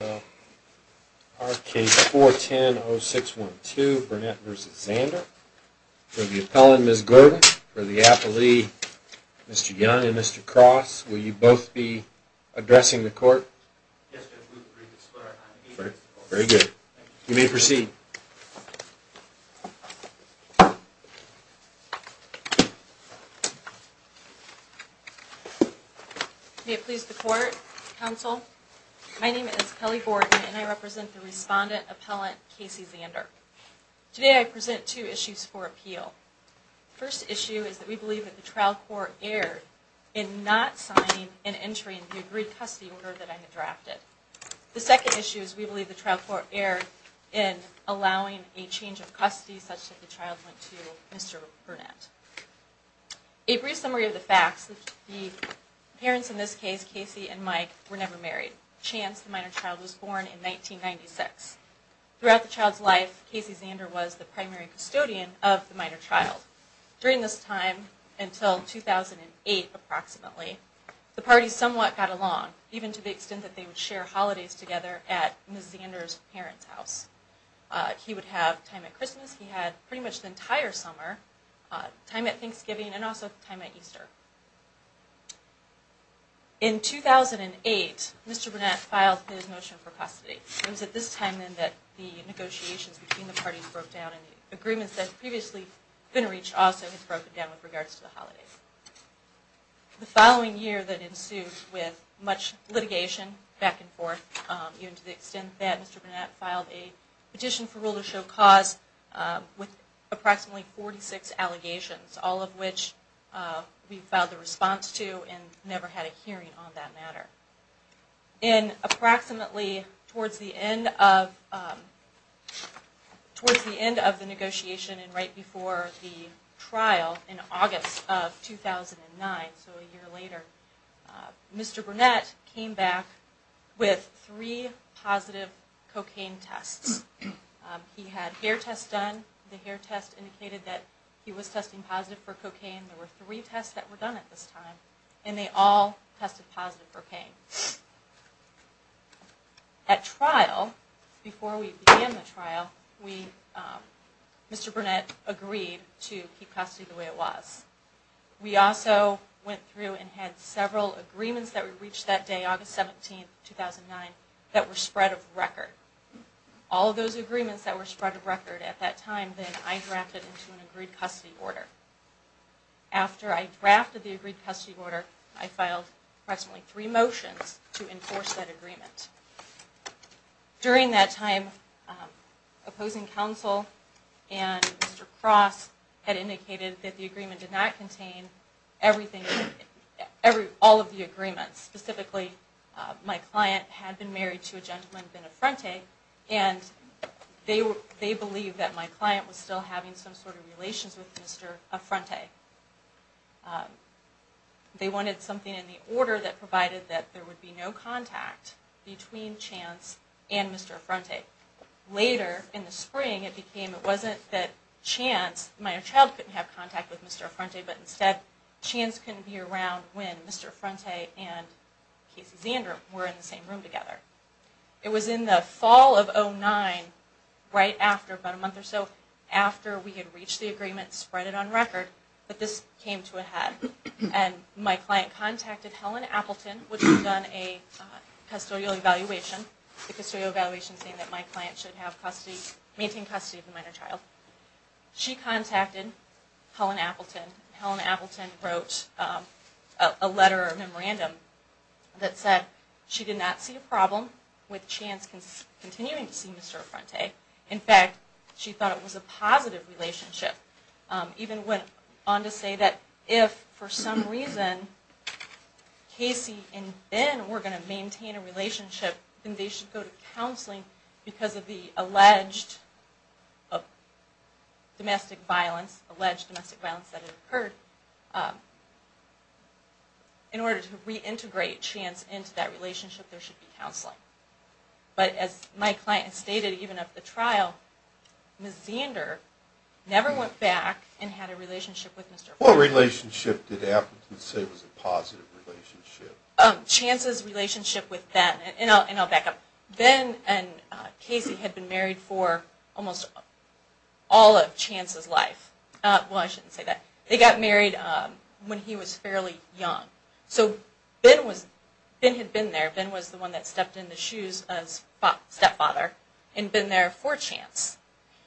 for the appellate, Mr. Young and Mr. Cross. Will you both be addressing the court? Yes, Judge. We agree to split our time. Very good. You may proceed. May it please the court, counsel, my name is Kelly Borden and I represent the respondent appellant Casey Zander. Today I present two issues for appeal. The first issue is that we believe that the trial court erred in not signing an entry in the agreed custody order that I had drafted. The second issue is we believe the trial court erred in allowing a change of custody such that the child went to Mr. Burnett. A brief summary of the facts, the parents in this case, Casey and Mike, were never married. Chance, the minor child, was born in 1996. Throughout the child's life, Casey Zander was the primary custodian of the minor child. During this time, until 2008 approximately, the parties somewhat got along, even to the extent that they would share holidays together at Ms. Zander's parents' house. He would have time at Christmas, he had pretty much the entire summer, time at Thanksgiving, and also time at Easter. In 2008, Mr. Burnett filed his motion for custody. It was at this time then that the negotiations between the parties broke down and the agreements that had previously been reached also had broken down with regards to the holidays. The following year that ensued with much litigation back and forth, even to the extent that Mr. Burnett filed a petition for rule of show cause with approximately 46 allegations, all of which we filed a response to and never had a hearing on that matter. Approximately towards the end of the negotiation and right before the trial in August of 2009, so a year later, Mr. Burnett came back with three positive cocaine tests. He had hair tests done, the hair test indicated that he was testing positive for cocaine. There were three tests that were done at this time and they all tested positive for cocaine. At trial, before we began the trial, Mr. Burnett agreed to keep custody the way it was. We also went through and had several agreements that were reached that day, August 17, 2009, that were spread of record. All of those agreements that were spread of record at that time then I drafted into an agreed custody order. After I drafted the agreed custody order, I filed approximately three motions to enforce that agreement. During that time, opposing counsel and Mr. Cross had indicated that the agreement did not contain all of the agreements. Specifically, my client had been married to a gentleman, Ben Affronte, and they believed that my client was still having some sort of relations with Mr. Affronte. They wanted something in the order that provided that there would be no contact between Chance and Mr. Affronte. Later, in the spring, it wasn't that Chance, my child, couldn't have contact with Mr. Affronte, but instead Chance couldn't be around when Mr. Affronte and Casey Zandrum were in the same room together. It was in the fall of 2009, right after, about a month or so after we had reached the agreement, spread it on record, that this came to a head. My client contacted Helen Appleton, which had done a custodial evaluation, saying that my client should maintain custody of the minor child. She contacted Helen Appleton. Helen Appleton wrote a letter or memorandum that said she did not see a problem with Chance continuing to see Mr. Affronte. In fact, she thought it was a positive relationship. She even went on to say that if, for some reason, Casey and Ben were going to maintain a relationship, then they should go to counseling because of the alleged domestic violence that had occurred. In order to reintegrate Chance into that relationship, there should be counseling. But as my client stated, even at the trial, Ms. Zander never went back and had a relationship with Mr. Affronte. What relationship did Appleton say was a positive relationship? Chance's relationship with Ben. And I'll back up. Ben and Casey had been married for almost all of Chance's life. Well, I shouldn't say that. They got married when he was fairly young. So Ben had been there. Ben was the one that stepped in the shoes of his stepfather and been there for Chance.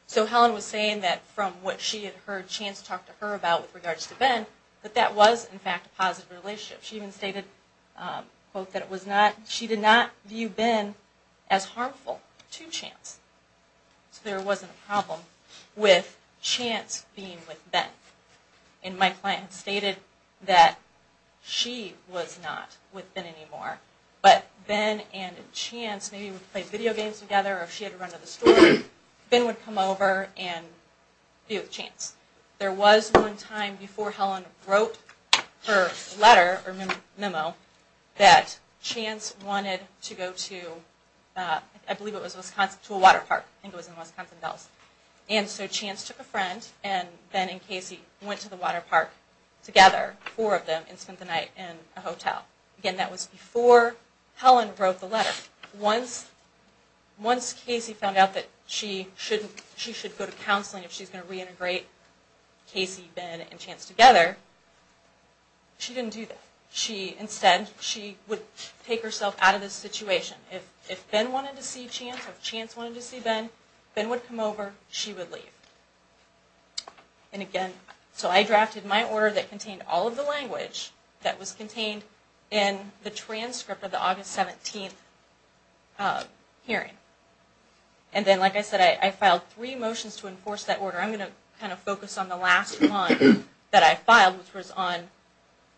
So Helen was saying that from what she had heard Chance talk to her about with regards to Ben, that that was, in fact, a positive relationship. She even stated, quote, that she did not view Ben as harmful to Chance. So there wasn't a problem with Chance being with Ben. And my client stated that she was not with Ben anymore. But Ben and Chance maybe would play video games together or if she had to run to the store, Ben would come over and be with Chance. There was one time before Helen wrote her letter or memo that Chance wanted to go to, I believe it was Wisconsin, to a water park. I think it was in Wisconsin, Dallas. And so Chance took a friend and Ben and Casey went to the water park together, four of them, and spent the night in a hotel. Again, that was before Helen wrote the letter. Once Casey found out that she should go to counseling if she's going to reintegrate Casey, Ben, and Chance together, she didn't do that. Instead, she would take herself out of this situation. If Ben wanted to see Chance, if Chance wanted to see Ben, Ben would come over, she would leave. And again, so I drafted my order that contained all of the language that was contained in the transcript of the August 17th hearing. And then, like I said, I filed three motions to enforce that order. I'm going to kind of focus on the last one that I filed, which was on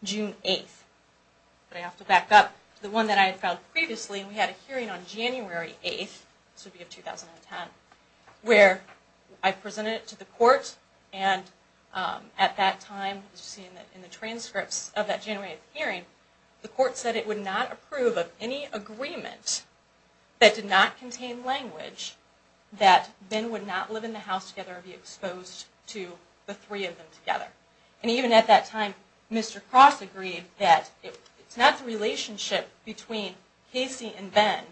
June 8th. But I have to back up to the one that I had filed previously. And we had a hearing on January 8th, this would be in 2010, where I presented it to the court. And at that time, as you see in the transcripts of that January 8th hearing, the court said it would not approve of any agreement that did not contain language that Ben would not live in the house together or be exposed to the three of them together. And even at that time, Mr. Cross agreed that it's not the relationship between Casey and Ben,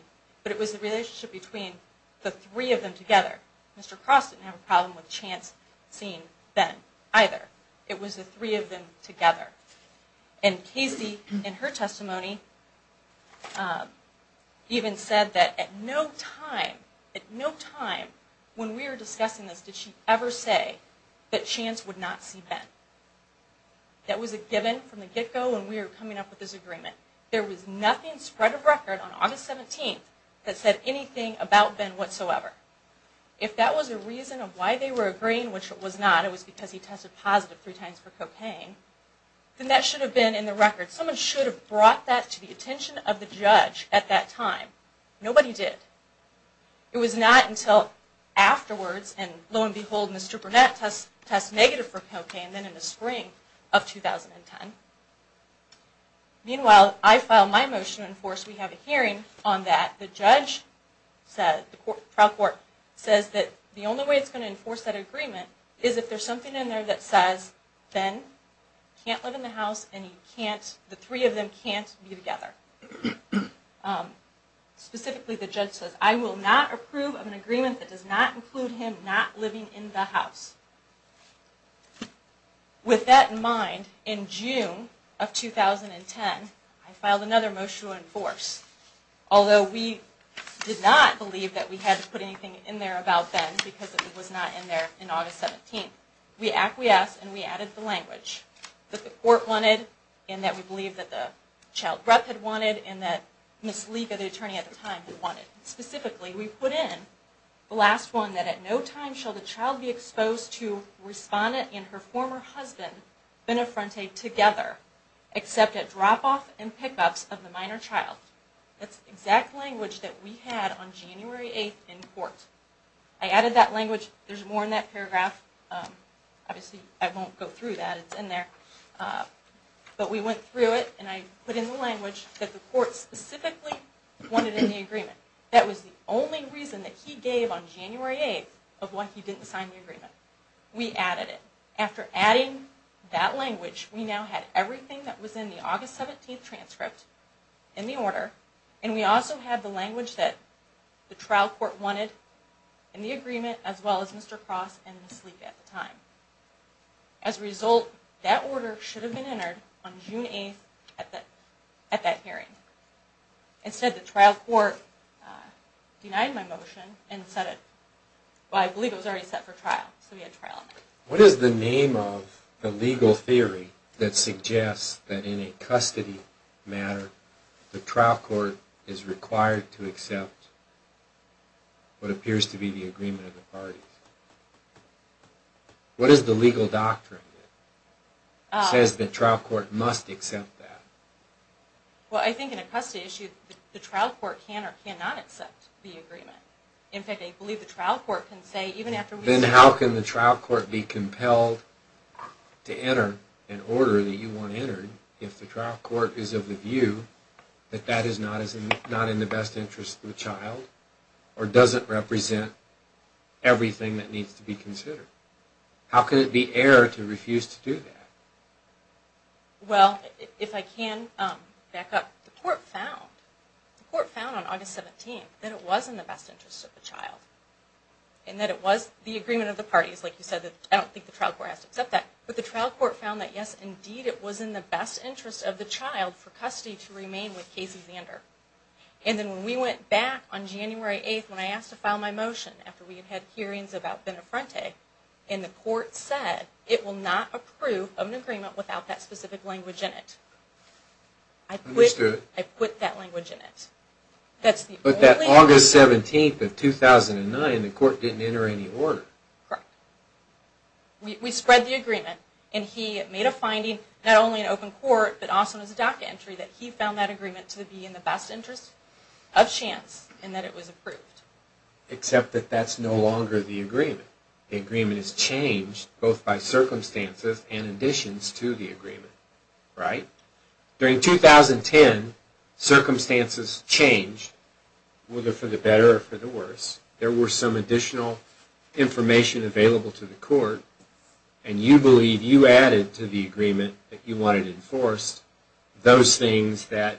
but it was the relationship between the three of them together. Mr. Cross didn't have a problem with Chance seeing Ben either. It was the three of them together. And Casey, in her testimony, even said that at no time, at no time when we were discussing this, did she ever say that Chance would not see Ben. That was a given from the get-go when we were coming up with this agreement. There was nothing spread of record on August 17th that said anything about Ben whatsoever. If that was a reason of why they were agreeing, which it was not, it was because he tested positive three times for cocaine, then that should have been in the record. Someone should have brought that to the attention of the judge at that time. Nobody did. It was not until afterwards, and lo and behold, Mr. Burnett tests negative for cocaine, then in the spring of 2010. Meanwhile, I filed my motion to enforce. We have a hearing on that. The judge said, the trial court says that the only way it's going to enforce that agreement is if there's something in there that says Ben can't live in the house and the three of them can't be together. Specifically, the judge says, I will not approve of an agreement that does not include him not living in the house. With that in mind, in June of 2010, I filed another motion to enforce. Although we did not believe that we had to put anything in there about Ben, because it was not in there in August 17th, we acquiesced and we added the language that the court wanted and that we believed that the child's breath had wanted and that Ms. Liga, the attorney at the time, had wanted. Specifically, we put in the last one, that at no time shall the child be exposed to respondent and her former husband, Ben Affronte, together, except at drop-off and pick-ups of the minor child. That's the exact language that we had on January 8th in court. I added that language. There's more in that paragraph. Obviously, I won't go through that. But we went through it and I put in the language that the court specifically wanted in the agreement. That was the only reason that he gave on January 8th of why he didn't sign the agreement. We added it. After adding that language, we now had everything that was in the August 17th transcript in the order and we also had the language that the trial court wanted in the agreement as well as Mr. Cross and Ms. Liga at the time. As a result, that order should have been entered on June 8th at that hearing. Instead, the trial court denied my motion and said it. I believe it was already set for trial, so we had trial on that. What is the name of the legal theory that suggests that in a custody matter, the trial court is required to accept what appears to be the agreement of the parties? What is the legal doctrine that says the trial court must accept that? Well, I think in a custody issue, the trial court can or cannot accept the agreement. In fact, I believe the trial court can say even after we say... Then how can the trial court be compelled to enter an order that you want entered if the trial court is of the view that that is not in the best interest of the child or doesn't represent everything that needs to be considered? How can it be error to refuse to do that? Well, if I can back up. The court found on August 17th that it was in the best interest of the child and that it was the agreement of the parties. Like you said, I don't think the trial court has to accept that. But the trial court found that, yes, indeed, it was in the best interest of the child for custody to remain with Casey Zander. And then when we went back on January 8th, when I asked to file my motion after we had had hearings about Benefronte, and the court said it will not approve of an agreement without that specific language in it. Understood. I quit that language in it. But that August 17th of 2009, the court didn't enter any order. Correct. We spread the agreement, and he made a finding, not only in open court, but also in his DACA entry, that he found that agreement to be in the best interest of chance and that it was approved. Except that that's no longer the agreement. The agreement is changed both by circumstances and additions to the agreement, right? During 2010, circumstances changed, whether for the better or for the worse. There were some additional information available to the court, and you believe you added to the agreement that you wanted enforced those things that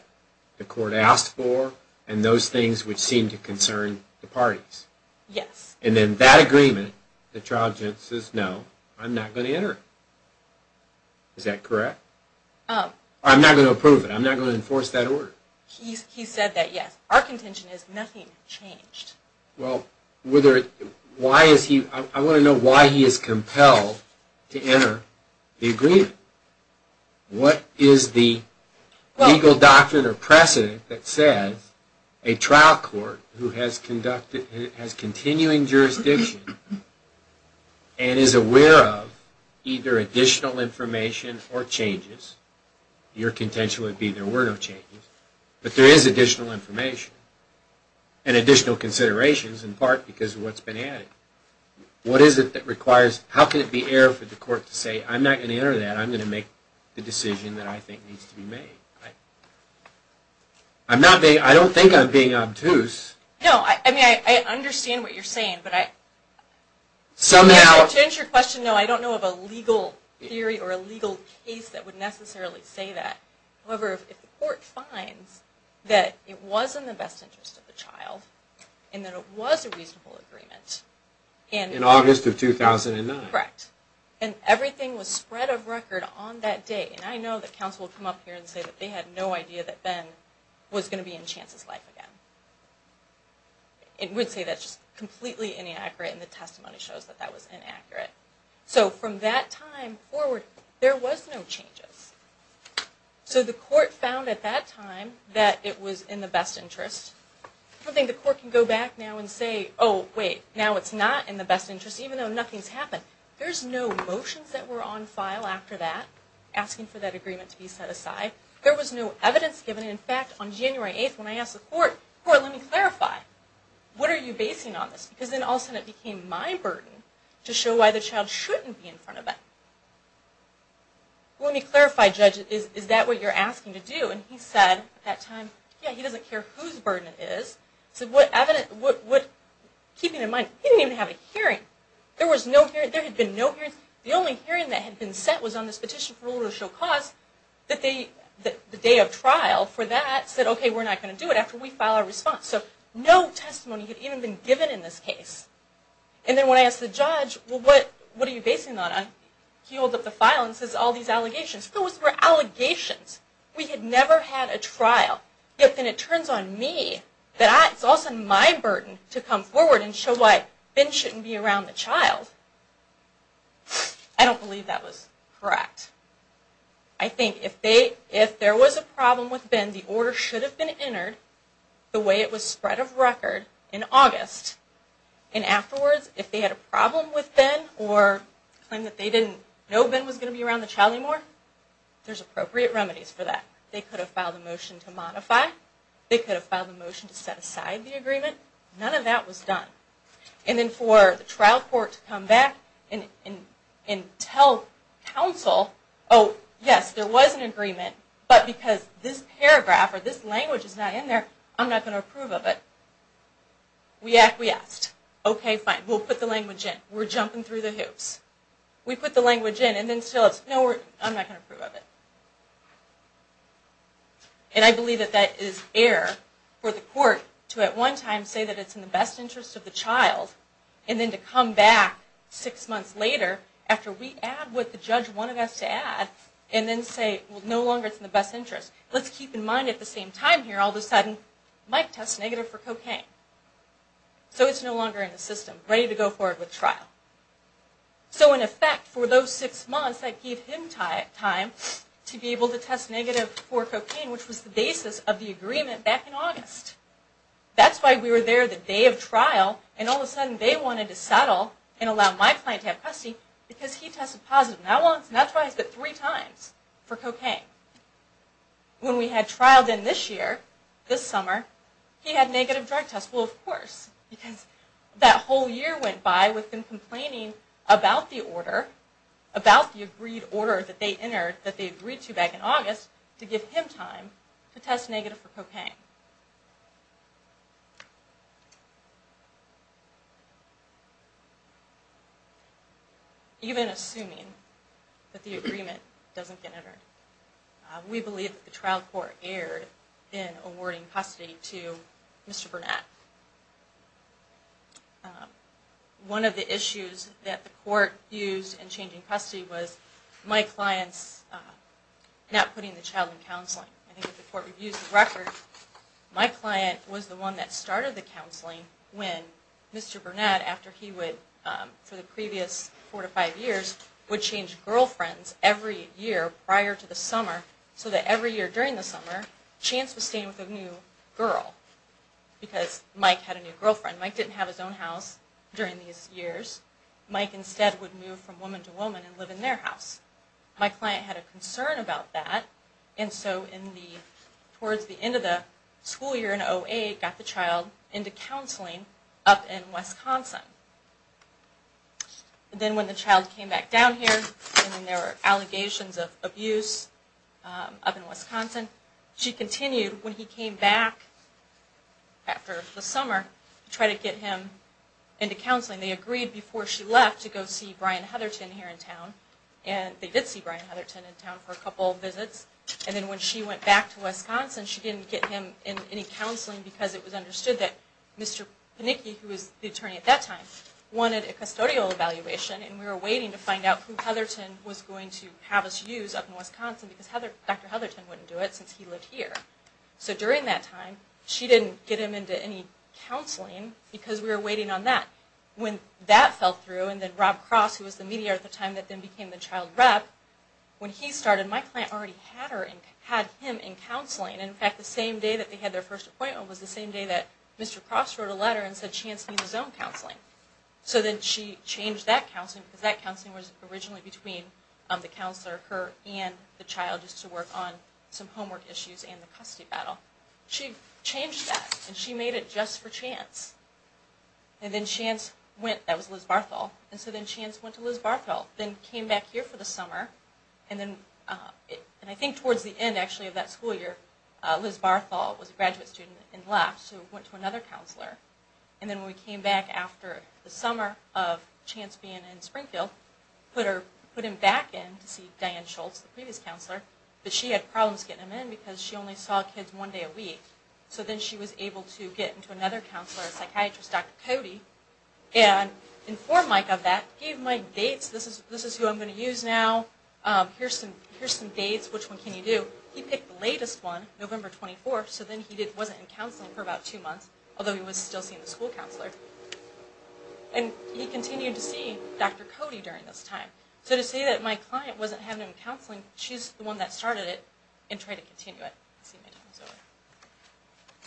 the court asked for and those things which seemed to concern the parties. Yes. And then that agreement, the trial judge says, no, I'm not going to enter it. Is that correct? I'm not going to approve it. I'm not going to enforce that order. He said that, yes. Our contention is nothing changed. Well, I want to know why he is compelled to enter the agreement. What is the legal doctrine or precedent that says a trial court who has continuing jurisdiction and is aware of either additional information or changes, your contention would be there were no changes, but there is additional information and additional considerations in part because of what's been added. What is it that requires, how can it be error for the court to say, I'm not going to enter that, I'm going to make the decision that I think needs to be made? I'm not being, I don't think I'm being obtuse. No, I mean, I understand what you're saying, but I... Somehow... To answer your question, no, I don't know of a legal theory or a legal case that would necessarily say that. However, if the court finds that it was in the best interest of the child and that it was a reasonable agreement... In August of 2009. Correct. And everything was spread of record on that day. And I know that counsel would come up here and say that they had no idea that Ben was going to be in Chance's life again. It would say that's just completely inaccurate and the testimony shows that that was inaccurate. So from that time forward, there was no changes. So the court found at that time that it was in the best interest. I don't think the court can go back now and say, oh wait, now it's not in the best interest even though nothing's happened. There's no motions that were on file after that asking for that agreement to be set aside. There was no evidence given. In fact, on January 8th when I asked the court, let me clarify, what are you basing on this? Because then all of a sudden it became my burden to show why the child shouldn't be in front of that. Let me clarify, judge, is that what you're asking to do? And he said at that time, yeah, he doesn't care whose burden it is. Keeping in mind, he didn't even have a hearing. There was no hearing. There had been no hearings. The only hearing that had been set was on this petition for order to show cause that the day of trial for that said, okay, we're not going to do it after we file our response. So no testimony had even been given in this case. And then when I asked the judge, well, what are you basing that on? He holds up the file and says all these allegations. Those were allegations. We had never had a trial. Yet then it turns on me that it's also my burden to come forward and show why Ben shouldn't be around the child. I don't believe that was correct. I think if there was a problem with Ben, the order should have been entered the way it was spread of record in August. And afterwards, if they had a problem with Ben or claimed that they didn't know Ben was going to be around the child anymore, there's appropriate remedies for that. They could have filed a motion to modify. They could have filed a motion to set aside the agreement. None of that was done. And then for the trial court to come back and tell counsel, oh, yes, there was an agreement, but because this paragraph or this language is not in there, I'm not going to approve of it. We asked. Okay, fine. We'll put the language in. We're jumping through the hoops. We put the language in and then still it's, no, I'm not going to approve of it. And I believe that that is error for the court to at one time say that it's in the best interest of the child and then to come back six months later after we add what the judge wanted us to add and then say, well, no longer it's in the best interest. Let's keep in mind at the same time here, all of a sudden Mike tests negative for cocaine. So it's no longer in the system, ready to go forward with trial. So in effect, for those six months, that gave him time to be able to test negative for cocaine, which was the basis of the agreement back in August. That's why we were there the day of trial and all of a sudden they wanted to settle and allow my client to have custody because he tested positive not once, not twice, but three times for cocaine. When we had trial then this year, this summer, he had negative drug tests. Well, of course, because that whole year went by with him complaining about the order, about the agreed order that they entered, that they agreed to back in August, to give him time to test negative for cocaine. Even assuming that the agreement doesn't get entered. We believe that the trial court erred in awarding custody to Mr. Burnett. One of the issues that the court used in changing custody was my client's not putting the child in counseling. I think if the court reviews the record, my client was the one that started the counseling when Mr. Burnett, after he would, for the previous four to five years, would change girlfriends every year prior to the summer so that every year during the summer, Chance was staying with a new girl because Mike had a new girlfriend. Mike didn't have his own house during these years. Mike instead would move from woman to woman and live in their house. My client had a concern about that and so towards the end of the school year in 08, got the child into counseling up in Wisconsin. Then when the child came back down here and there were allegations of abuse up in Wisconsin, she continued when he came back after the summer to try to get him into counseling. They agreed before she left to go see Brian Heatherton here in town. They did see Brian Heatherton in town for a couple of visits. Then when she went back to Wisconsin, she didn't get him in any counseling because it was understood that Mr. Panicki, who was the attorney at that time, wanted a custodial evaluation. We were waiting to find out who Heatherton was going to have us use up in Wisconsin because Dr. Heatherton wouldn't do it since he lived here. So during that time, she didn't get him into any counseling because we were waiting on that. When that fell through and then Rob Cross, who was the mediator at the time that then became the child rep, when he started, my client already had him in counseling. In fact, the same day that they had their first appointment was the same day that Mr. Cross wrote a letter and said Chance needs his own counseling. So then she changed that counseling because that counseling was originally between the counselor, her, and the child just to work on some homework issues and the custody battle. She changed that and she made it just for Chance. Then Chance went, that was Liz Barthel, and so then Chance went to Liz Barthel and then came back here for the summer. I think towards the end of that school year, Liz Barthel was a graduate student and left so went to another counselor. Then when we came back after the summer of Chance being in Springfield, put him back in to see Diane Schultz, the previous counselor, but she had problems getting him in because she only saw kids one day a week. So then she was able to get into another counselor, a psychiatrist, Dr. Cody, and informed Mike of that, gave my dates, this is who I'm going to use now, here's some dates, which one can you do. He picked the latest one, November 24th, so then he wasn't in counseling for about two months, although he was still seeing the school counselor. And he continued to see Dr. Cody during this time. So to say that my client wasn't having him in counseling, she's the one that started it and tried to continue it. I see my name is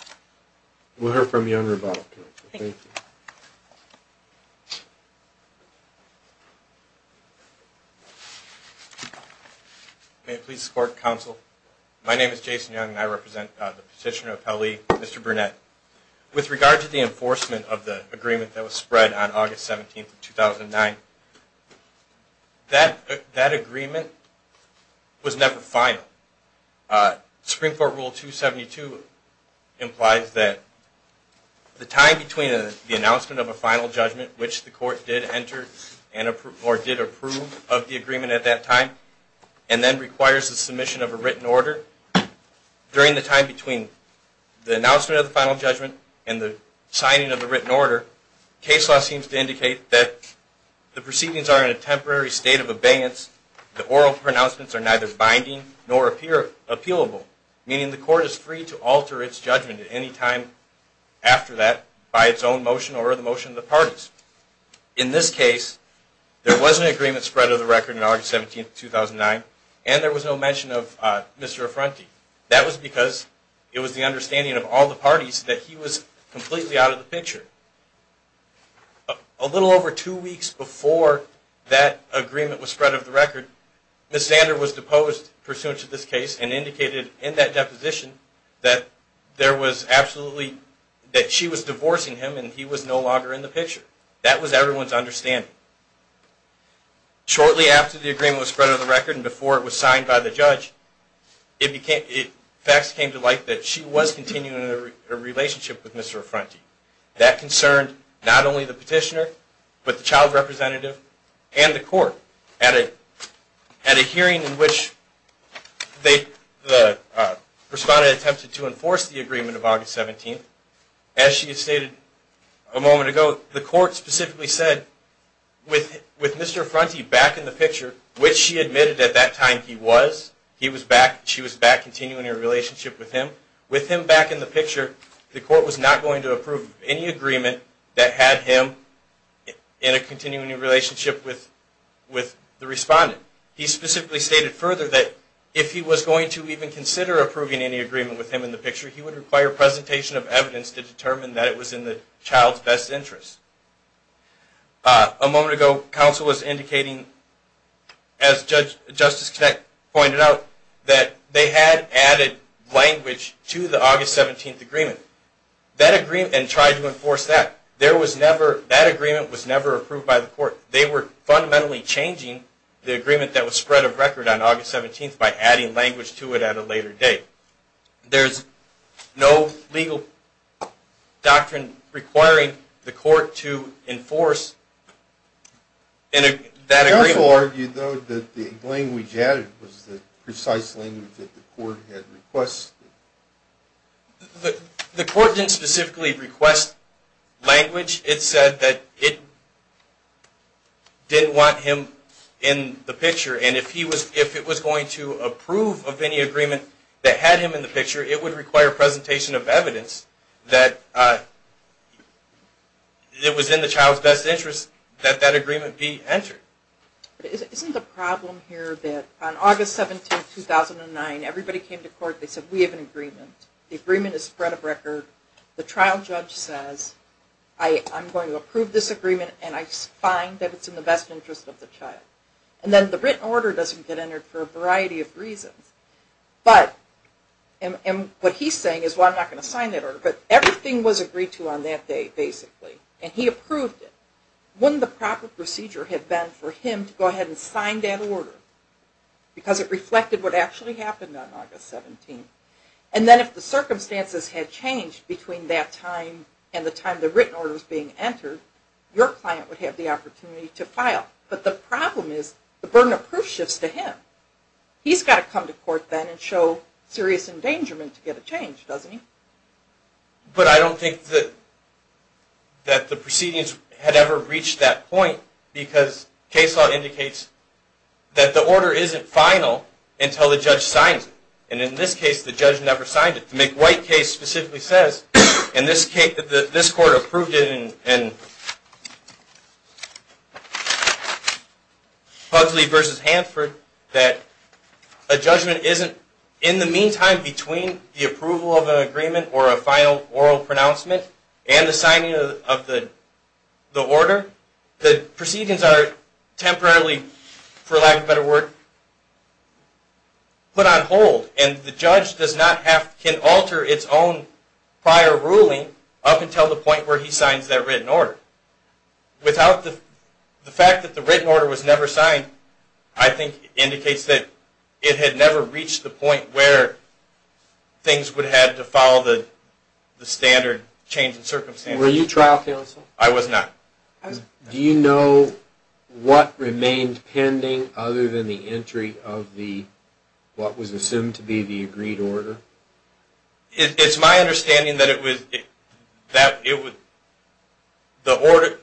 over. We'll hear from you on rebuttal. Thank you. May I please support counsel? My name is Jason Young and I represent the petitioner of Pele, Mr. Burnett. With regard to the enforcement of the agreement that was spread on August 17th of 2009, that agreement was never final. Supreme Court Rule 272 implies that the time between the announcement of a final judgment, which the court did enter or did approve of the agreement at that time, and then requires the submission of a written order, during the time between the announcement of the final judgment and the signing of the written order, case law seems to indicate that the proceedings are in a temporary state of abeyance, the oral pronouncements are neither binding nor appealable, meaning the court is free to alter its judgment at any time after that by its own motion or the motion of the parties. In this case, there was an agreement spread of the record on August 17th, 2009, and there was no mention of Mr. Affronti. That was because it was the understanding of all the parties that he was completely out of the picture. A little over two weeks before that agreement was spread of the record, Ms. Zander was deposed pursuant to this case and indicated in that deposition that she was divorcing him and he was no longer in the picture. That was everyone's understanding. Shortly after the agreement was spread of the record and before it was signed by the judge, facts came to light that she was continuing a relationship with Mr. Affronti. That concerned not only the petitioner but the child representative and the court. At a hearing in which the respondent attempted to enforce the agreement of August 17th, as she had stated a moment ago, the court specifically said, with Mr. Affronti back in the picture, which she admitted at that time he was, she was back continuing a relationship with him, with him back in the picture, the court was not going to approve any agreement that had him in a continuing relationship with the respondent. He specifically stated further that if he was going to even consider approving any agreement with him in the picture, he would require presentation of evidence to determine that it was in the child's best interest. A moment ago, counsel was indicating, as Justice Connett pointed out, that they had added language to the August 17th agreement and tried to enforce that. That agreement was never approved by the court. They were fundamentally changing the agreement that was spread of record on August 17th by adding language to it at a later date. There's no legal doctrine requiring the court to enforce that agreement. Counsel argued, though, that the language added was the precise language that the court had requested. The court didn't specifically request language. It said that it didn't want him in the picture. And if it was going to approve of any agreement that had him in the picture, it would require presentation of evidence that it was in the child's best interest that that agreement be entered. Isn't the problem here that on August 17th, 2009, everybody came to court and said, we have an agreement. The agreement is spread of record. The trial judge says, I'm going to approve this agreement, and I find that it's in the best interest of the child. And then the written order doesn't get entered for a variety of reasons. And what he's saying is, well, I'm not going to sign that order. But everything was agreed to on that day, basically, and he approved it. Wouldn't the proper procedure have been for him to go ahead and sign that order? Because it reflected what actually happened on August 17th. And then if the circumstances had changed between that time and the time the written order was being entered, your client would have the opportunity to file. But the problem is, the burden of proof shifts to him. He's got to come to court then and show serious endangerment to get a change, doesn't he? But I don't think that the proceedings had ever reached that point, because case law indicates that the order isn't final until the judge signs it. And in this case, the judge never signed it. The McWhite case specifically says, and this court approved it in Pugsley v. Hanford, that a judgment isn't in the meantime between the approval of an agreement or a final oral pronouncement and the signing of the order. The proceedings are temporarily, for lack of a better word, put on hold. And the judge can alter its own prior ruling up until the point where he signs that written order. The fact that the written order was never signed, I think, indicates that it had never reached the point where things would have to follow the standard change in circumstances. Were you trial counsel? I was not. Do you know what remained pending other than the entry of what was assumed to be the agreed order? It's my understanding that the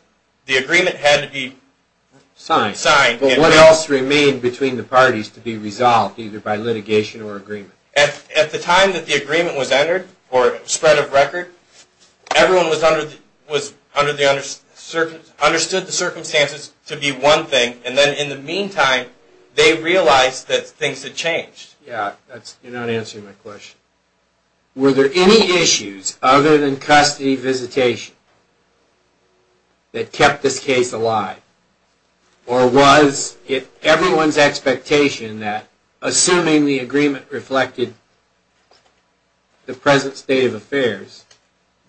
agreement had to be signed. But what else remained between the parties to be resolved, either by litigation or agreement? At the time that the agreement was entered, or spread of record, everyone understood the circumstances to be one thing. And then in the meantime, they realized that things had changed. You're not answering my question. Were there any issues other than custody visitation that kept this case alive? Or was it everyone's expectation that, assuming the agreement reflected the present state of affairs,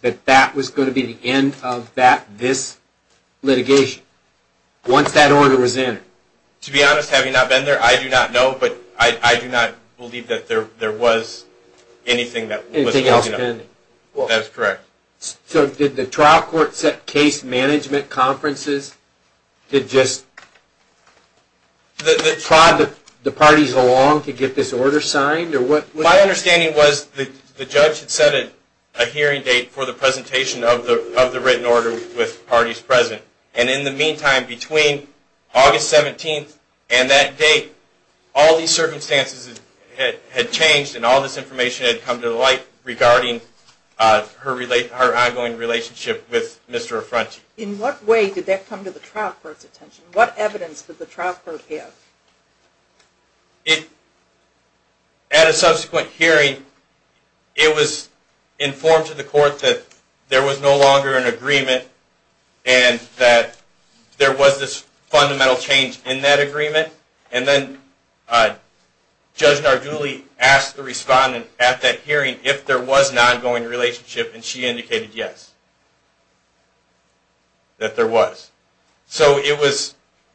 that that was going to be the end of this litigation once that order was entered? To be honest, having not been there, I do not know. But I do not believe that there was anything that was pending. Anything else pending? That is correct. So did the trial court set case management conferences to just prod the parties along to get this order signed? My understanding was the judge had set a hearing date for the presentation of the written order with parties present. And in the meantime, between August 17th and that date, all these circumstances had changed and all this information had come to light regarding her ongoing relationship with Mr. Affronti. In what way did that come to the trial court's attention? What evidence did the trial court have? At a subsequent hearing, it was informed to the court that there was no longer an agreement and that there was this fundamental change in that agreement. And then Judge Nardulli asked the respondent at that hearing if there was an ongoing relationship, and she indicated yes, that there was.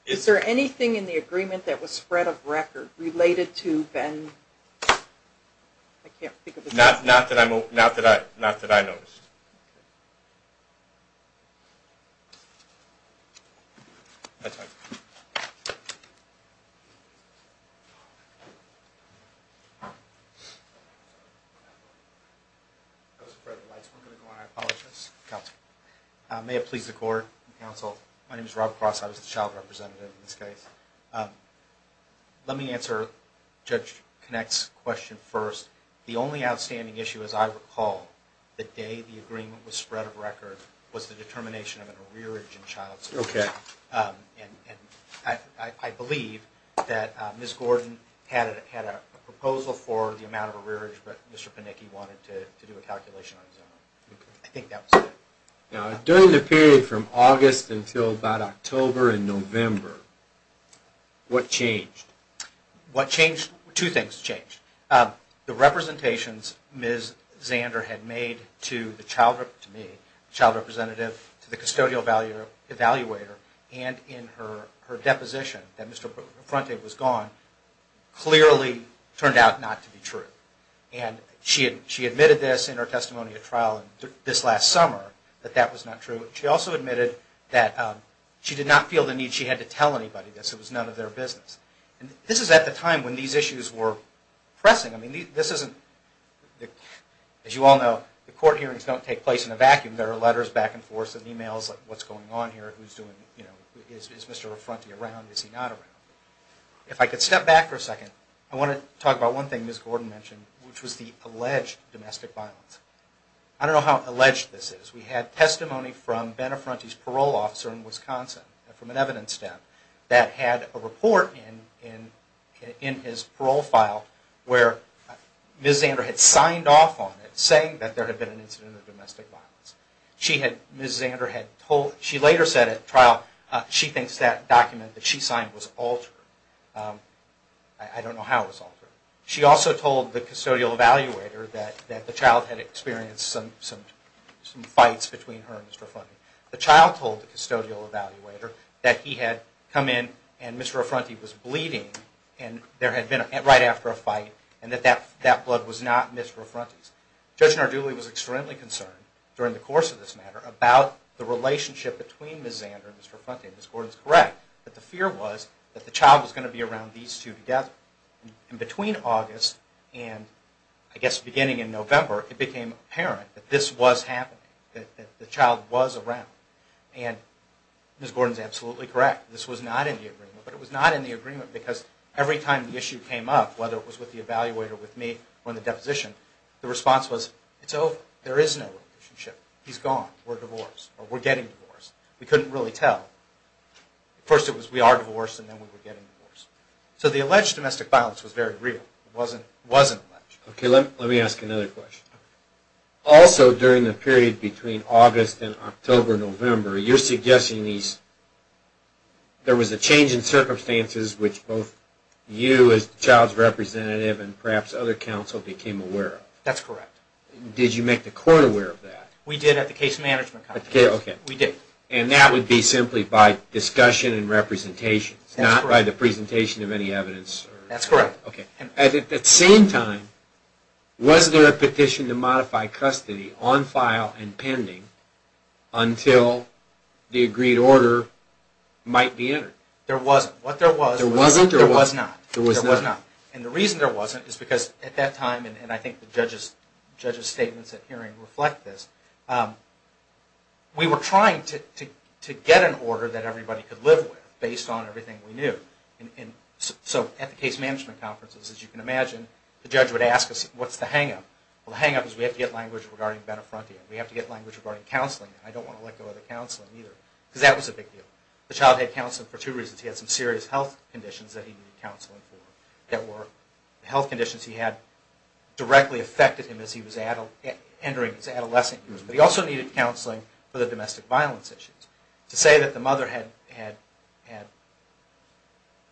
Is there anything in the agreement that was spread of record related to Ben? Not that I noticed. May it please the court and counsel, my name is Rob Cross. I was the child representative in this case. Let me answer Judge Connacht's question first. The only outstanding issue, as I recall, the day the agreement was spread of record, was the determination of an arrearage in child support. And I believe that Ms. Gordon had a proposal for the amount of arrearage, but Mr. Panicki wanted to do a calculation on his own. I think that was it. During the period from August until about October and November, what changed? Two things changed. The representations Ms. Zander had made to me, the child representative, to the custodial evaluator, and in her deposition that Mr. Affronte was gone, clearly turned out not to be true. She admitted this in her testimony at trial this last summer, that that was not true. She also admitted that she did not feel the need she had to tell anybody this. It was none of their business. This is at the time when these issues were pressing. As you all know, the court hearings don't take place in a vacuum. There are letters back and forth and emails like, what's going on here? Is Mr. Affronte around? Is he not around? If I could step back for a second, I want to talk about one thing Ms. Gordon mentioned, which was the alleged domestic violence. I don't know how alleged this is. We had testimony from Ben Affronte's parole officer in Wisconsin, from an evidence step, that had a report in his parole file where Ms. Zander had signed off on it, saying that there had been an incident of domestic violence. She had, Ms. Zander had told, she later said at trial, she thinks that document that she signed was altered. I don't know how it was altered. She also told the custodial evaluator that the child had experienced some fights between her and Mr. Affronte. The child told the custodial evaluator that he had come in and Mr. Affronte was bleeding, and there had been, right after a fight, and that that blood was not Mr. Affronte's. Judge Narduli was extremely concerned during the course of this matter about the relationship between Ms. Zander and Mr. Affronte. Ms. Gordon is correct that the fear was that the child was going to be around these two together. And between August and, I guess, beginning in November, it became apparent that this was happening, that the child was around. And Ms. Gordon is absolutely correct. This was not in the agreement, but it was not in the agreement because every time the issue came up, whether it was with the evaluator, with me, or in the deposition, the response was, it's over, there is no relationship. He's gone, we're divorced, or we're getting divorced. We couldn't really tell. First it was, we are divorced, and then we were getting divorced. So the alleged domestic violence was very real. It wasn't alleged. Okay, let me ask another question. Also, during the period between August and October, November, you're suggesting there was a change in circumstances which both you as the child's representative and perhaps other counsel became aware of. That's correct. Did you make the court aware of that? We did at the case management conference. And that would be simply by discussion and representation, not by the presentation of any evidence? That's correct. At the same time, was there a petition to modify custody on file and pending until the agreed order might be entered? There wasn't. There wasn't? There was not. There was not. And the reason there wasn't is because at that time, and I think the judge's statements at hearing reflect this, we were trying to get an order that everybody could live with based on everything we knew. So at the case management conferences, as you can imagine, the judge would ask us, what's the hang-up? Well, the hang-up is we have to get language regarding bene frontia. We have to get language regarding counseling. I don't want to let go of the counseling either, because that was a big deal. The child had counseling for two reasons. He had some serious health conditions that he needed counseling for that were health conditions he had directly affected him as he was entering his adolescence. But he also needed counseling for the domestic violence issues. To say that the mother had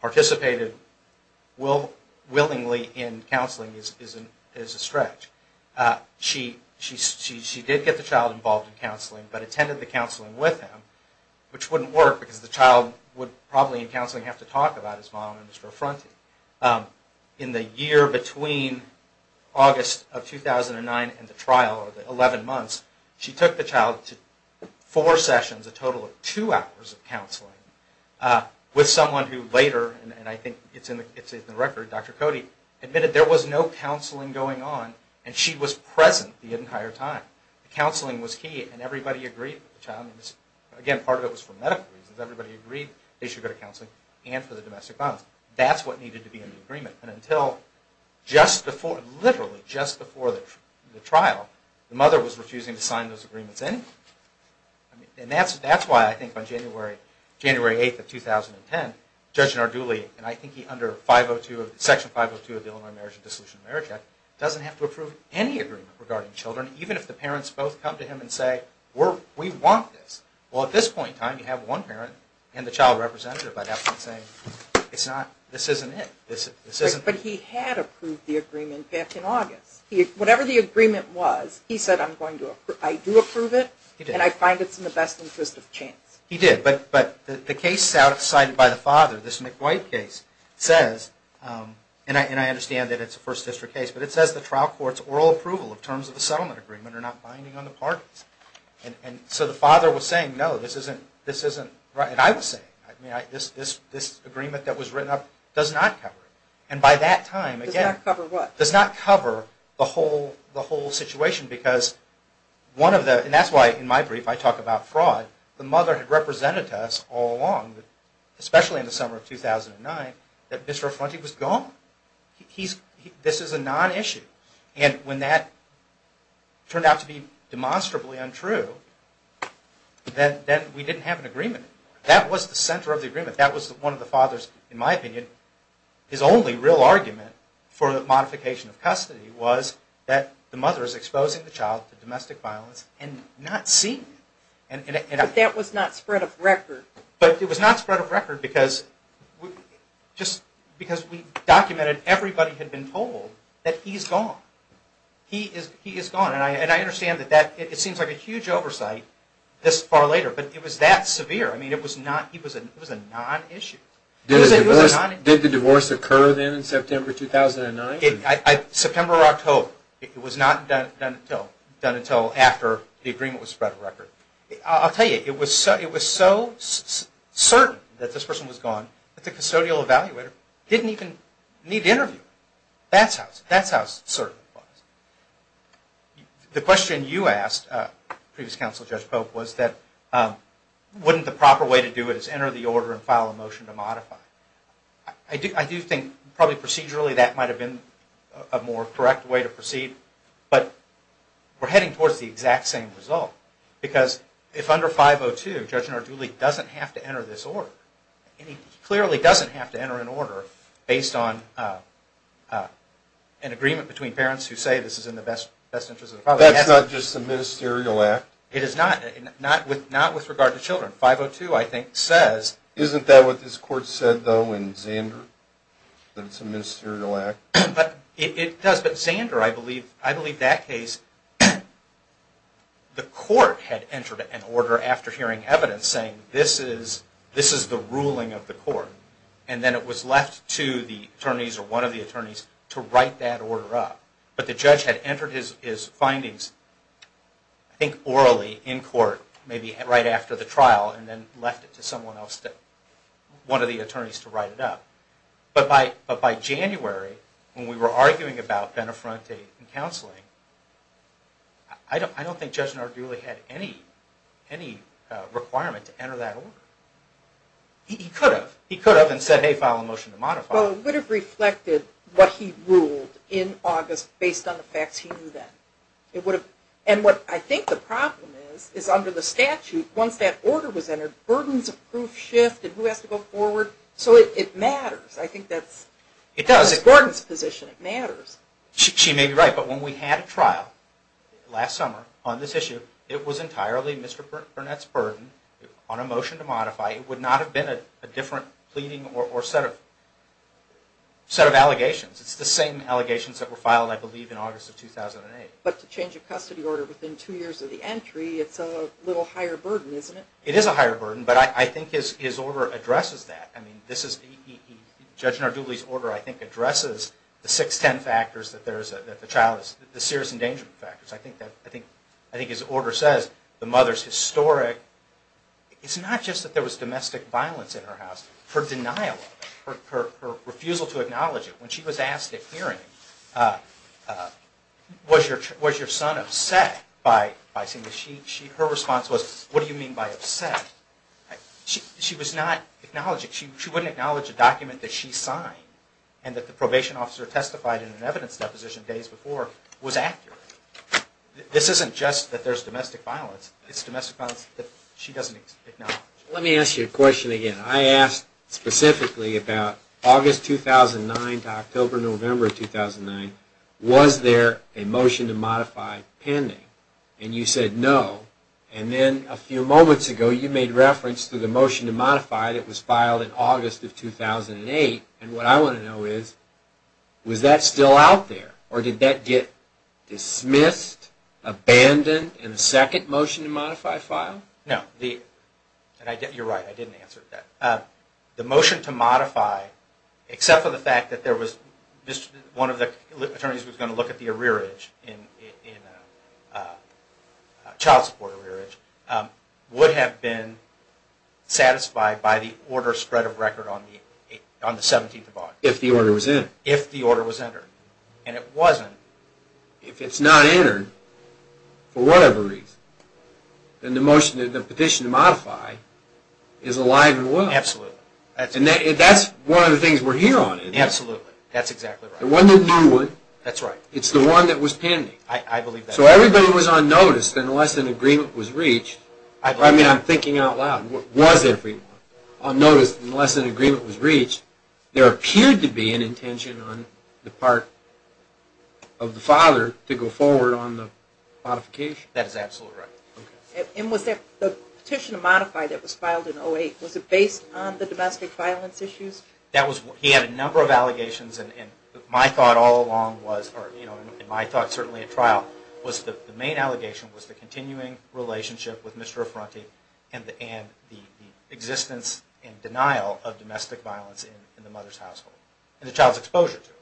participated willingly in counseling is a stretch. She did get the child involved in counseling, but attended the counseling with him, which wouldn't work, because the child would probably in counseling have to talk about his mom and Mr. Affronti. In the year between August of 2009 and the trial, or the 11 months, she took the child to four sessions, a total of two hours of counseling, with someone who later, and I think it's in the record, Dr. Cody, admitted there was no counseling going on, and she was present the entire time. Counseling was key, and everybody agreed with the child. Again, part of it was for medical reasons. Everybody agreed they should go to counseling, and for the domestic violence. That's what needed to be in the agreement. And until just before, literally just before the trial, the mother was refusing to sign those agreements anyway. And that's why I think on January 8th of 2010, Judge Narduli, and I think he under Section 502 of the Illinois Marriage and Dissolution of Marriage Act, doesn't have to approve any agreement regarding children, even if the parents both come to him and say, we want this. Well, at this point in time, you have one parent and the child representative, by that point saying, this isn't it. But he had approved the agreement back in August. Whatever the agreement was, he said, I do approve it, and I find it's in the best interest of chance. He did, but the case cited by the father, this McWhite case, and I understand that it's a First District case, but it says the trial court's oral approval of terms of the settlement agreement are not binding on the parties. And so the father was saying, no, this isn't right. And I was saying, this agreement that was written up does not cover it. And by that time, again, does not cover the whole situation, because one of the, and that's why in my brief I talk about fraud, the mother had represented to us all along, especially in the summer of 2009, that Bishara Fronti was gone. This is a non-issue. And when that turned out to be demonstrably untrue, then we didn't have an agreement anymore. That was the center of the agreement. That was one of the fathers, in my opinion, his only real argument for the modification of custody was that the mother is exposing the child to domestic violence and not seeing it. But that was not spread of record. But it was not spread of record, because we documented, everybody had been told that he's gone. He is gone. And I understand that it seems like a huge oversight this far later, but it was that severe. I mean, it was a non-issue. Did the divorce occur then in September 2009? September or October, it was not done until after the agreement was spread of record. I'll tell you, it was so certain that this person was gone, that the custodial evaluator didn't even need to interview him. That's how certain it was. The question you asked, previous counsel, Judge Pope, was that, wouldn't the proper way to do it is enter the order and file a motion to modify? I do think, probably procedurally, that might have been a more correct way to proceed. But we're heading towards the exact same result. Because if under 502, Judge Narduli doesn't have to enter this order, and he clearly doesn't have to enter an order based on an agreement between parents who say this is in the best interest of the father. That's not just a ministerial act? It is not, not with regard to children. 502, I think, says... Isn't that what this court said, though, in Zander? That it's a ministerial act? It does. But Zander, I believe that case, the court had entered an order after hearing evidence saying this is the ruling of the court. And then it was left to the attorneys, or one of the attorneys, to write that order up. Maybe right after the trial, and then left it to someone else, one of the attorneys, to write it up. But by January, when we were arguing about bene fronte and counseling, I don't think Judge Narduli had any requirement to enter that order. He could have. He could have and said, hey, file a motion to modify. Well, it would have reflected what he ruled in August based on the facts he knew then. And what I think the problem is, is under the statute, once that order was entered, burdens of proof shifted. Who has to go forward? So it matters. I think that's Gordon's position. It matters. She may be right, but when we had a trial last summer on this issue, it was entirely Mr. Burnett's burden on a motion to modify. It would not have been a different pleading or set of allegations. It's the same allegations that were filed, I believe, in August of 2008. But to change a custody order within two years of the entry, it's a little higher burden, isn't it? It is a higher burden, but I think his order addresses that. I mean, Judge Narduli's order, I think, addresses the six, ten factors that the child is – the serious endangerment factors. I think his order says the mother's historic – it's not just that there was domestic violence in her house. Her denial of it, her refusal to acknowledge it. When she was asked at hearing, was your son upset by seeing this? Her response was, what do you mean by upset? She was not acknowledging. She wouldn't acknowledge a document that she signed and that the probation officer testified in an evidence deposition days before was accurate. This isn't just that there's domestic violence. It's domestic violence that she doesn't acknowledge. Let me ask you a question again. I asked specifically about August 2009 to October, November 2009. Was there a motion to modify pending? And you said no. And then a few moments ago, you made reference to the motion to modify that was filed in August of 2008. And what I want to know is, was that still out there? Or did that get dismissed, abandoned in the second motion to modify file? No. You're right. I didn't answer that. The motion to modify, except for the fact that there was – one of the attorneys was going to look at the arrearage, child support arrearage, would have been satisfied by the order spread of record on the 17th of August. If the order was entered. If the order was entered. And it wasn't. If it's not entered, for whatever reason, then the petition to modify is alive and well. Absolutely. And that's one of the things we're here on. Absolutely. That's exactly right. The one that knew it. That's right. It's the one that was pending. I believe that. So everybody was on notice unless an agreement was reached. I mean, I'm thinking out loud. Was everyone on notice unless an agreement was reached? There appeared to be an intention on the part of the father to go forward on the modification. That is absolutely right. Okay. And was the petition to modify that was filed in 08, was it based on the domestic violence issues? He had a number of allegations, and my thought all along was, and my thought certainly at trial, was the main allegation was the continuing relationship with Mr. Affronti and the existence and denial of domestic violence in the mother's household and the child's exposure to it.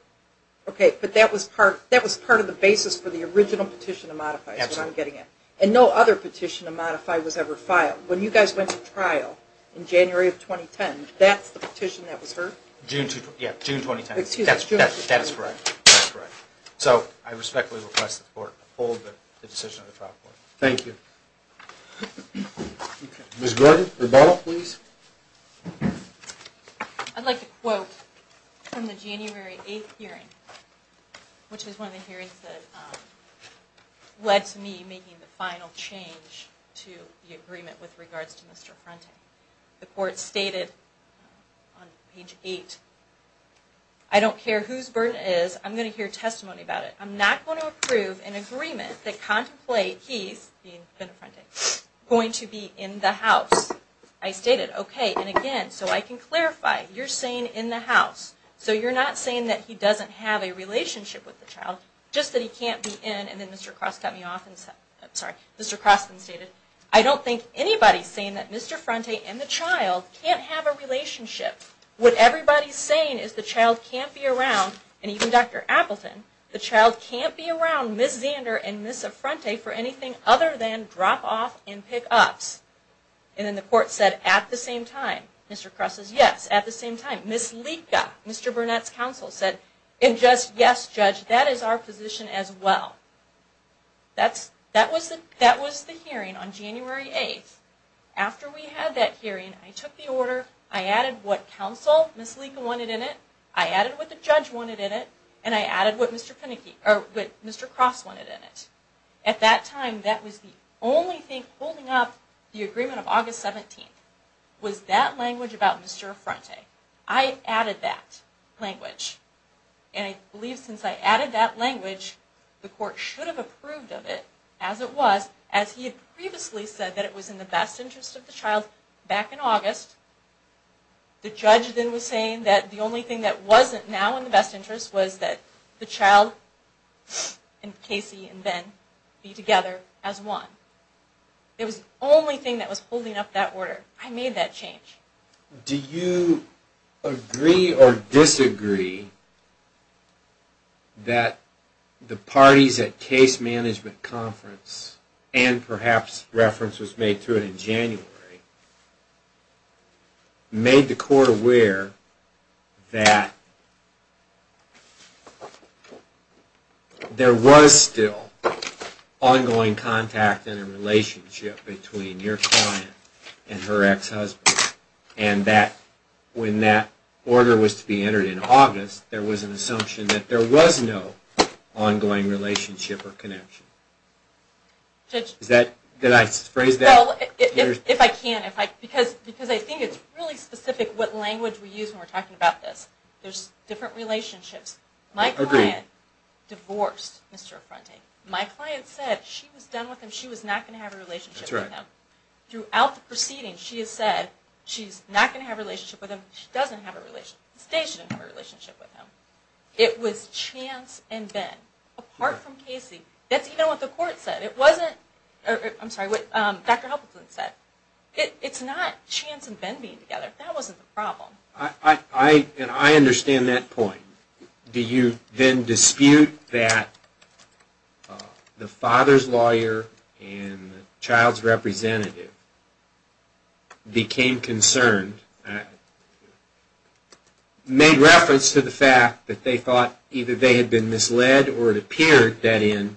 Okay, but that was part of the basis for the original petition to modify. That's what I'm getting at. And no other petition to modify was ever filed. When you guys went to trial in January of 2010, that's the petition that was heard? June 2010. Yeah, June 2010. That's correct. That's correct. So I respectfully request the Court to hold the decision of the trial court. Thank you. Ms. Gordon, rebuttal, please. I'd like to quote from the January 8 hearing, which is one of the hearings that led to me making the final change to the agreement with regards to Mr. Affronti. The Court stated on page 8, I don't care whose burden it is, I'm going to hear testimony about it. I'm not going to approve an agreement that contemplates he's going to be in the house. I stated, okay, and again, so I can clarify, you're saying in the house. So you're not saying that he doesn't have a relationship with the child, just that he can't be in, and then Mr. Cross cut me off. Sorry, Mr. Cross then stated, I don't think anybody's saying that Mr. Affronti and the child can't have a relationship. What everybody's saying is the child can't be around, and even Dr. Appleton, the child can't be around Ms. Zander and Ms. Affronti for anything other than drop-off and pick-ups. And then the Court said, at the same time, Mr. Cross says, yes, at the same time. Ms. Lika, Mr. Burnett's counsel, said, and just, yes, judge, that is our position as well. That was the hearing on January 8th. After we had that hearing, I took the order, I added what counsel, Ms. Lika, wanted in it, I added what the judge wanted in it, and I added what Mr. Cross wanted in it. At that time, that was the only thing holding up the agreement of August 17th, was that language about Mr. Affronti. I added that language. And I believe since I added that language, the Court should have approved of it, as it was, as he had previously said that it was in the best interest of the child back in August. The judge then was saying that the only thing that wasn't now in the best interest was that the child and Casey and Ben be together as one. It was the only thing that was holding up that order. I made that change. Do you agree or disagree that the parties at Case Management Conference, and perhaps reference was made to it in January, made the Court aware that there was still ongoing contact and a relationship between your client and her ex-husband, and that when that order was to be entered in August, there was an assumption that there was no ongoing relationship or connection? Did I phrase that? If I can. Because I think it's really specific what language we use when we're talking about this. There's different relationships. My client divorced Mr. Affronti. My client said she was done with him. She was not going to have a relationship with him. Throughout the proceedings, she has said she's not going to have a relationship with him. She doesn't have a relationship with him. They shouldn't have a relationship with him. It was Chance and Ben, apart from Casey. That's even what the Court said. It wasn't, I'm sorry, what Dr. Huppleton said. It's not Chance and Ben being together. That wasn't the problem. And I understand that point. Do you then dispute that the father's lawyer and the child's representative became concerned, made reference to the fact that they thought either they had been misled, or it appeared that in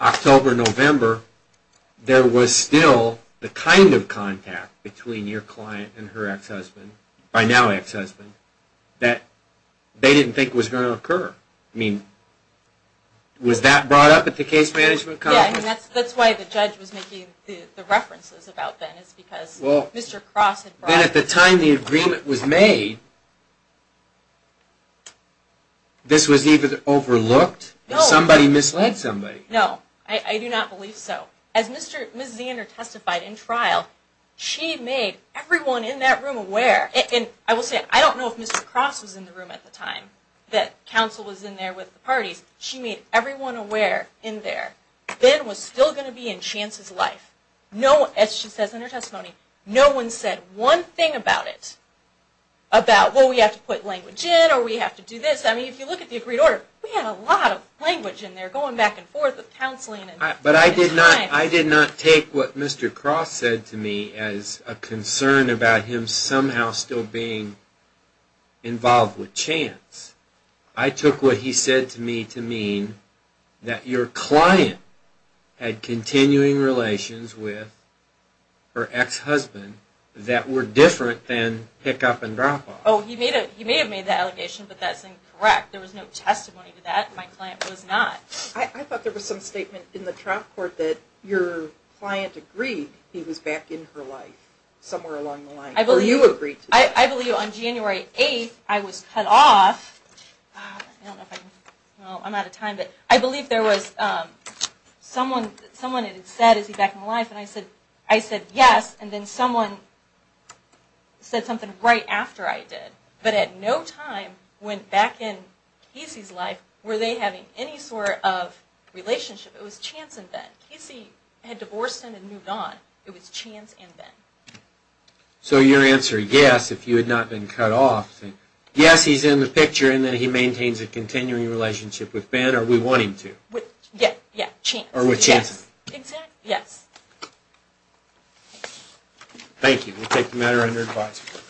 October, November, there was still the kind of contact between your client and her ex-husband, by now ex-husband, that they didn't think was going to occur. I mean, was that brought up at the case management conference? Yeah, that's why the judge was making the references about that, because Mr. Cross had brought it up. Then at the time the agreement was made, this was even overlooked? Somebody misled somebody? No, I do not believe so. As Ms. Zander testified in trial, she made everyone in that room aware. And I will say, I don't know if Mr. Cross was in the room at the time that counsel was in there with the parties. She made everyone aware in there. Ben was still going to be in Chance's life. As she says in her testimony, no one said one thing about it. About, well, we have to put language in, or we have to do this. I mean, if you look at the agreed order, we had a lot of language in there, going back and forth with counseling. But I did not take what Mr. Cross said to me as a concern about him somehow still being involved with Chance. I took what he said to me to mean that your client had continuing relations with her ex-husband that were different than pick-up and drop-off. Oh, he may have made that allegation, but that's incorrect. There was no testimony to that. My client was not. I thought there was some statement in the trial court that your client agreed he was back in her life somewhere along the line, or you agreed to that. I believe on January 8th, I was cut off. I don't know if I, well, I'm out of time, but I believe there was someone that had said, is he back in her life? And I said, yes, and then someone said something right after I did. But at no time went back in Casey's life were they having any sort of relationship. It was Chance and Ben. Casey had divorced him and moved on. It was Chance and Ben. So your answer, yes, if you had not been cut off, yes, he's in the picture, and then he maintains a continuing relationship with Ben, or we want him to? With, yeah, Chance. Or with Chance. Exactly. Yes. Thank you. We'll take the matter under advisory.